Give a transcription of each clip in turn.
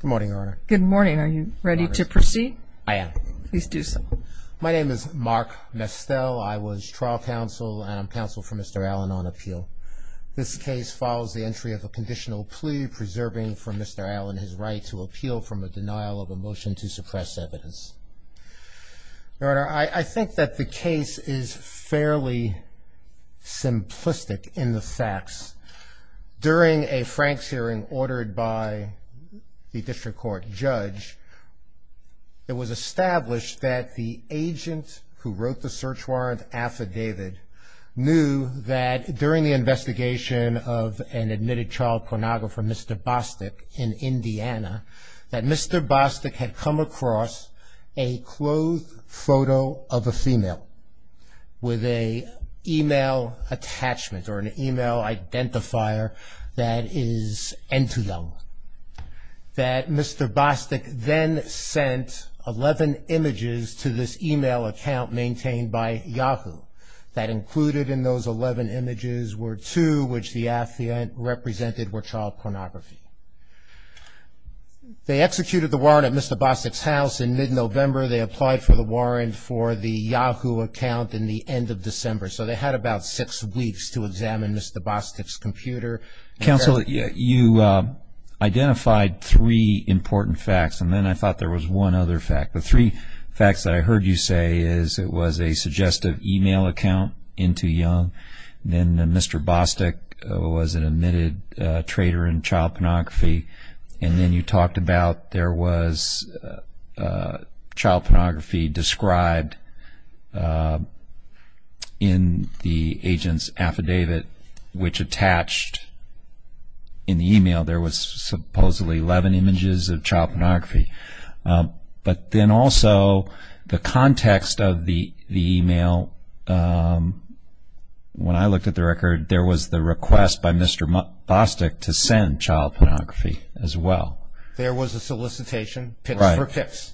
Good morning, Your Honor. Good morning. Are you ready to proceed? I am. Please do so. My name is Mark Mestel. I was trial counsel and I'm counsel for Mr. Allen on appeal. This case follows the entry of a conditional plea preserving for Mr. Allen his right to appeal from a denial of a motion to suppress evidence. Your Honor, I think that the case is fairly simplistic in the facts. During a Franks hearing ordered by the district court judge, it was established that the agent who wrote the search warrant affidavit knew that during the investigation of an admitted child pornographer, Mr. Bostic, in Indiana, that Mr. Bostic had come across a clothed photo of a female with a e-mail attachment or an e-mail identifier that is end to them, that Mr. Bostic then sent 11 images to this e-mail account maintained by Yahoo that included in those 11 images were two which the affidavit represented were child pornography. They executed the warrant at Mr. Bostic's house in mid-November. They applied for the warrant for the Yahoo account in the end of December. So they had about six weeks to examine Mr. Bostic's computer. Counsel, you identified three important facts and then I thought there was one other fact. The three facts that I heard you say is it was a suggestive e-mail account into child pornography and then you talked about there was child pornography described in the agent's affidavit which attached in the e-mail there was supposedly 11 images of child pornography. Now, when I looked at the record, there was the request by Mr. Bostic to send child pornography as well. There was a solicitation, pips for pips.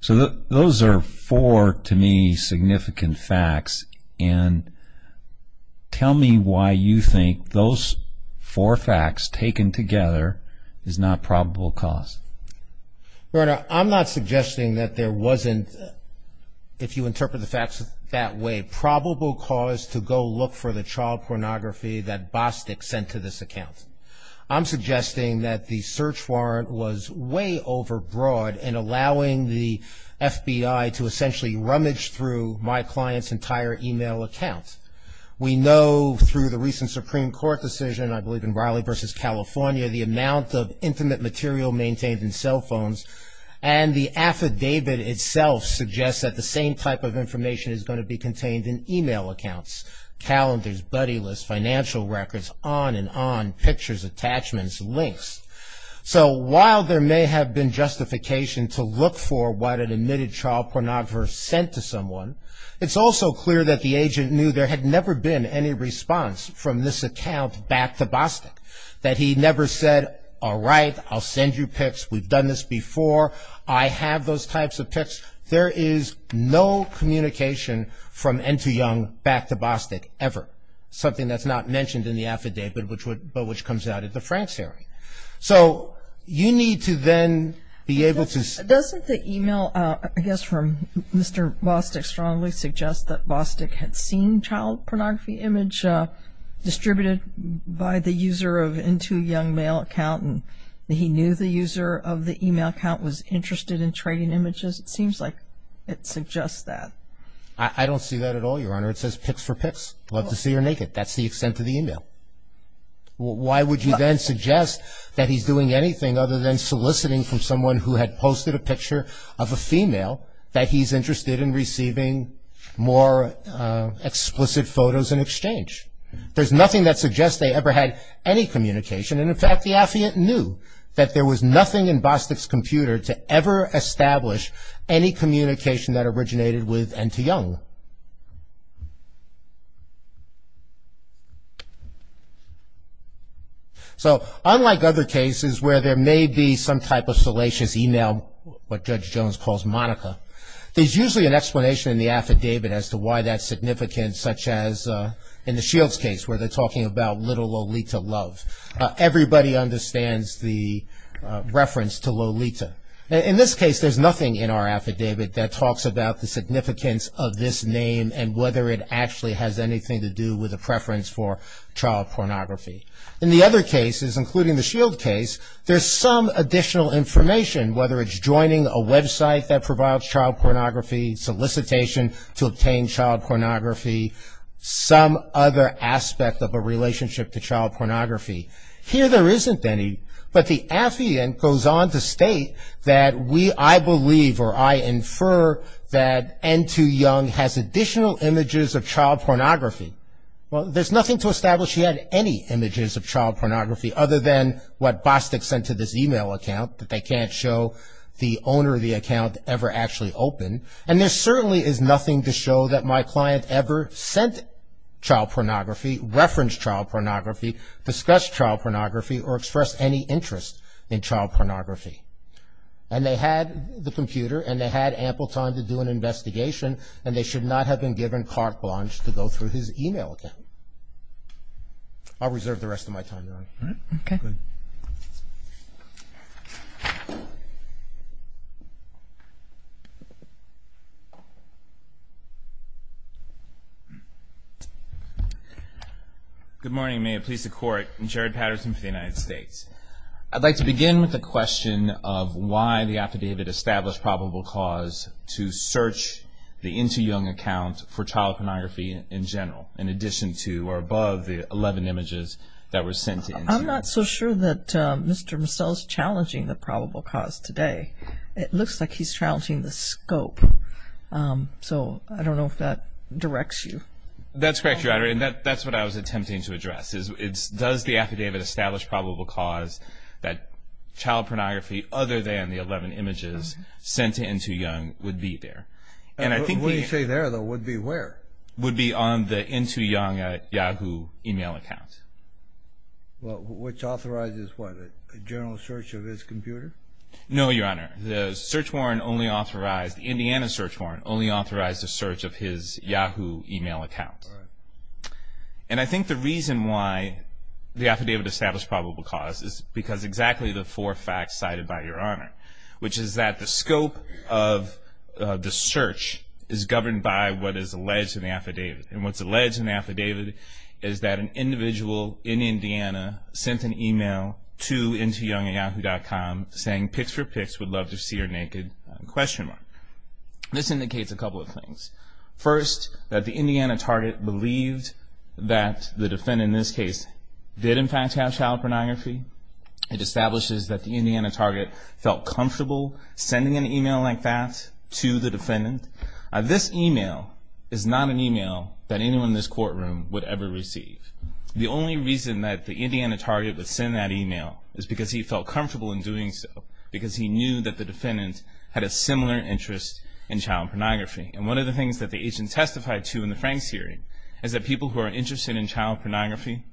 So those are four to me significant facts and tell me why you think those four facts taken together is not probable cause. Your Honor, I'm not suggesting that there wasn't, if you interpret the facts that way, probable cause to go look for the child pornography that Bostic sent to this account. I'm suggesting that the search warrant was way overbroad in allowing the FBI to essentially rummage through my client's entire e-mail account. We know through the recent Supreme Court decision, I believe in Raleigh v. California, the amount of intimate material maintained in cell phones and the affidavit itself suggests that the same type of information is going to be contained in e-mail accounts, calendars, buddy lists, financial records, on and on, pictures, attachments, links. So while there may have been justification to look for what an admitted child pornography sent to someone, it's also clear that the agent knew there had never been any response from this account back to Bostic, that he never said, all right, I'll send you pics. We've done this before. I have those types of pics. There is no communication from Ento Young back to Bostic ever, something that's not mentioned in the affidavit but which comes out at the France hearing. So you need to then be able to see. Doesn't the e-mail, I guess from Mr. Bostic, strongly suggest that Bostic had seen child pornography image distributed by the user of Ento Young mail account and he knew the user of the e-mail account was interested in trading images? It seems like it suggests that. I don't see that at all, Your Honor. It says pics for pics. Love to see her naked. That's the extent of the e-mail. Why would you then suggest that he's doing anything other than soliciting from someone who had posted a picture of a female that he's interested in receiving more explicit photos in exchange? There's nothing that suggests they ever had any communication. And, in fact, the affiant knew that there was nothing in Bostic's computer to ever establish any communication that originated with Ento Young. So unlike other cases where there may be some type of salacious e-mail, what Judge Jones calls Monica, there's usually an explanation in the affidavit as to why that's significant such as in the Shields case where they're talking about little Lolita love. Everybody understands the reference to Lolita. In this case, there's nothing in our affidavit that talks about the significance of this name and whether it actually has anything to do with a preference for child pornography. In the other cases, including the Shield case, there's some additional information, whether it's joining a website that provides child pornography, solicitation to obtain child pornography, some other aspect of a relationship to child pornography. Here there isn't any, but the affiant goes on to state that we, I believe, or I infer that Ento Young has additional images of child pornography. Well, there's nothing to establish he had any images of child pornography other than what Bostic sent to this e-mail account that they can't show the owner of the account ever actually opened. And there certainly is nothing to show that my client ever sent child pornography, referenced child pornography, discussed child pornography or expressed any interest in child pornography. And they had the computer and they had ample time to do an investigation and they should not have been given carte blanche to go through his e-mail account. I'll reserve the rest of my time. Good morning. May it please the Court. Jared Patterson for the United States. I'd like to begin with the question of why the affidavit established probable cause to search the Ento Young account for child pornography in general, in addition to or above the 11 images that were sent in. I'm not so sure that Mr. Masell is challenging the probable cause today. It looks like he's challenging the scope. So I don't know if that directs you. That's correct, Your Honor. And that's what I was attempting to address. Does the affidavit establish probable cause that child pornography other than the 11 images sent to Ento Young would be there? What do you say there, though? Would be where? Would be on the Ento Young Yahoo e-mail account. Well, which authorizes what? A general search of his computer? No, Your Honor. The search warrant only authorized, the Indiana search warrant only authorized a search of his Yahoo e-mail account. And I think the reason why the affidavit established probable cause is because exactly the four facts cited by Your Honor, which is that the scope of the search is governed by what is alleged in the affidavit. And what's alleged in the affidavit is that an individual in Indiana sent an e-mail to EntoYoungYahoo.com saying pics for pics, would love to see her naked, question mark. This indicates a couple of things. First, that the Indiana target believed that the defendant in this case did in fact have child pornography. It establishes that the Indiana target felt comfortable sending an e-mail like that to the defendant. This e-mail is not an e-mail that anyone in this courtroom would ever receive. The only reason that the Indiana target would send that e-mail is because he felt comfortable in doing so, because he knew that the defendant had a similar interest in child pornography. And one of the things that the agent testified to in the Franks hearing is that people who are interested in child pornography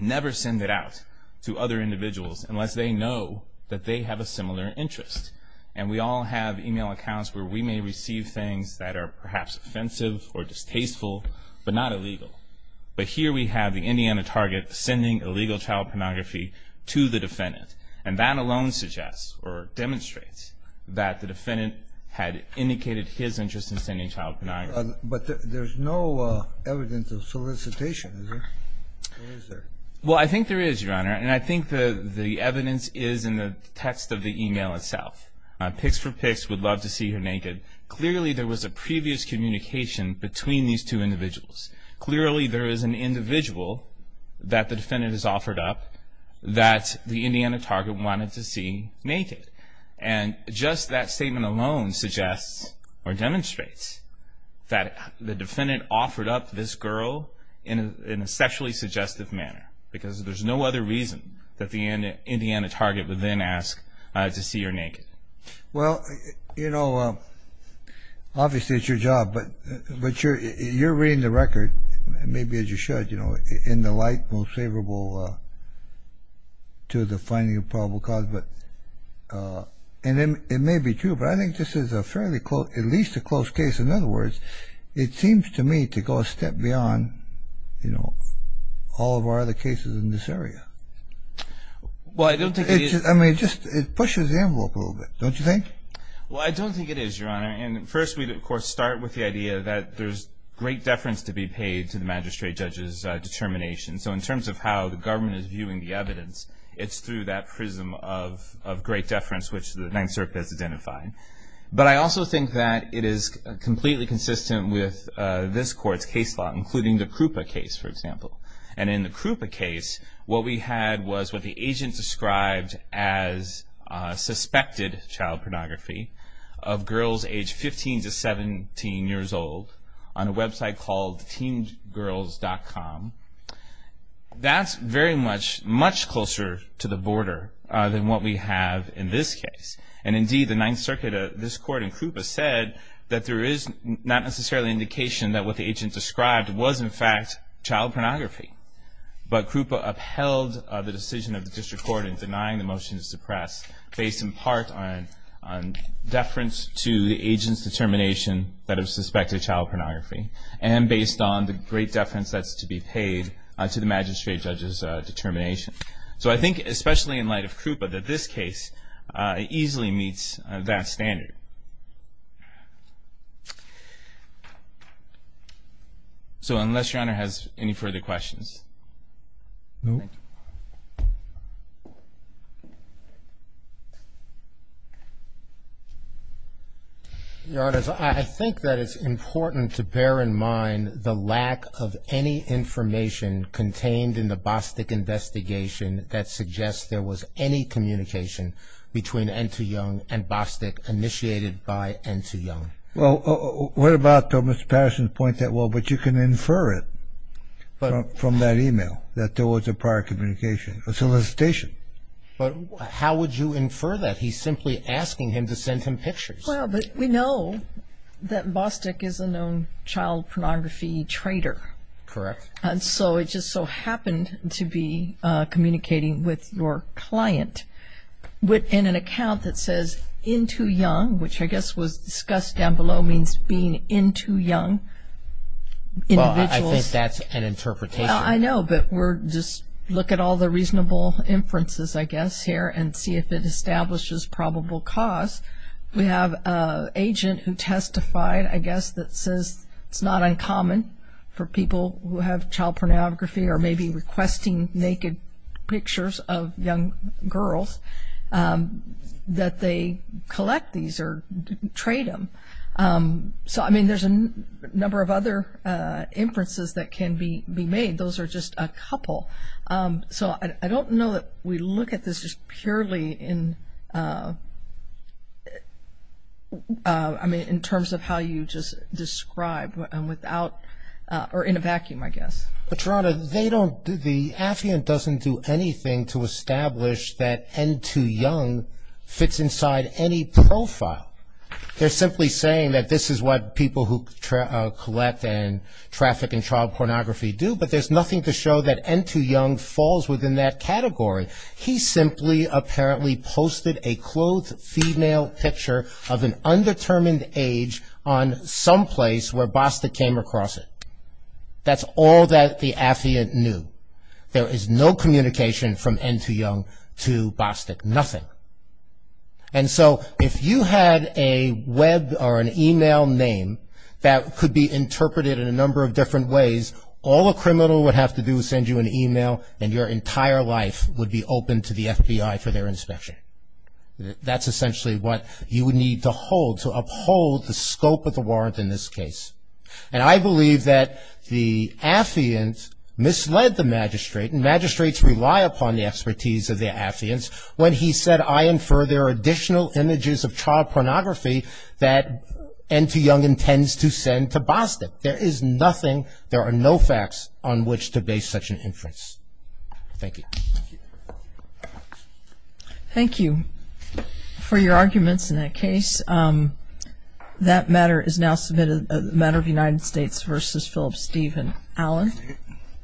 never send it out to other individuals unless they know that they have a similar interest. And we all have e-mail accounts where we may receive things that are perhaps offensive or distasteful, but not illegal. But here we have the Indiana target sending illegal child pornography to the defendant, and that alone suggests or demonstrates that the defendant had indicated his interest in sending child pornography. But there's no evidence of solicitation, is there? Or is there? Well, I think there is, Your Honor, and I think the evidence is in the text of the e-mail itself. Pics for pics, would love to see her naked. Clearly there was a previous communication between these two individuals. Clearly there is an individual that the defendant has offered up that the Indiana target wanted to see naked. And just that statement alone suggests or demonstrates that the defendant offered up this girl in a sexually suggestive manner, because there's no other reason that the Indiana target would then ask to see her naked. Well, you know, obviously it's your job, but you're reading the record. Maybe as you should, you know, in the light most favorable to the finding of probable cause. And it may be true, but I think this is a fairly close, at least a close case. In other words, it seems to me to go a step beyond, you know, all of our other cases in this area. Well, I don't think it is. I mean, it just pushes the envelope a little bit, don't you think? Well, I don't think it is, Your Honor. And first we, of course, start with the idea that there's great deference to be paid to the magistrate judge's determination. So in terms of how the government is viewing the evidence, it's through that prism of great deference, which the Ninth Circuit has identified. But I also think that it is completely consistent with this court's case law, including the Krupa case, for example. And in the Krupa case, what we had was what the agent described as suspected child predominance. Child pornography of girls aged 15 to 17 years old on a website called teengirls.com. That's very much, much closer to the border than what we have in this case. And indeed, the Ninth Circuit, this court, and Krupa said that there is not necessarily indication that what the agent described was, in fact, child pornography. But Krupa upheld the decision of the district court in denying the motion to suppress, based in part on deference to the agent's determination that it was suspected child pornography, and based on the great deference that's to be paid to the magistrate judge's determination. So I think, especially in light of Krupa, that this case easily meets that standard. Thank you. So unless Your Honor has any further questions. Your Honors, I think that it's important to bear in mind the lack of any information contained in the Bostick investigation that suggests there was any communication between N.T. Young and Bostick initiated by N.T. Young. Well, what about Mr. Patterson's point that, well, but you can infer it from that e-mail, that there was a prior communication, a solicitation. But how would you infer that? He's simply asking him to send him pictures. Well, but we know that Bostick is a known child pornography traitor. Correct. And so it just so happened to be communicating with your client in an account that says N.T. Young, which I guess was discussed down below, means being N.T. Young. Well, I think that's an interpretation. I know, but we're just looking at all the reasonable inferences, I guess, here, and see if it establishes probable cause. We have an agent who testified, I guess, that says it's not uncommon for people who have child pornography or may be requesting naked pictures of young girls that they collect these or trade them. So, I mean, there's a number of other inferences that can be made. Those are just a couple. So I don't know that we look at this just purely in, I mean, in terms of how you just describe without or in a vacuum, I guess. But, Rhonda, they don't, the affiant doesn't do anything to establish that N.T. Young fits inside any profile. They're simply saying that this is what people who collect and traffic in child pornography do, but there's nothing to show that N.T. Young falls within that category. He simply apparently posted a clothed female picture of an undetermined age on someplace where Bostick came across it. That's all that the affiant knew. There is no communication from N.T. Young to Bostick, nothing. And so if you had a web or an email name that could be interpreted in a number of different ways, all a criminal would have to do is send you an email and your entire life would be open to the FBI for their inspection. That's essentially what you would need to hold, to uphold the scope of the warrant in this case. And I believe that the affiant misled the magistrate, and magistrates rely upon the expertise of their affiants when he said, I infer there are additional images of child pornography that N.T. Young intends to send to Bostick. There is nothing, there are no facts on which to base such an inference. Thank you. Thank you for your arguments in that case.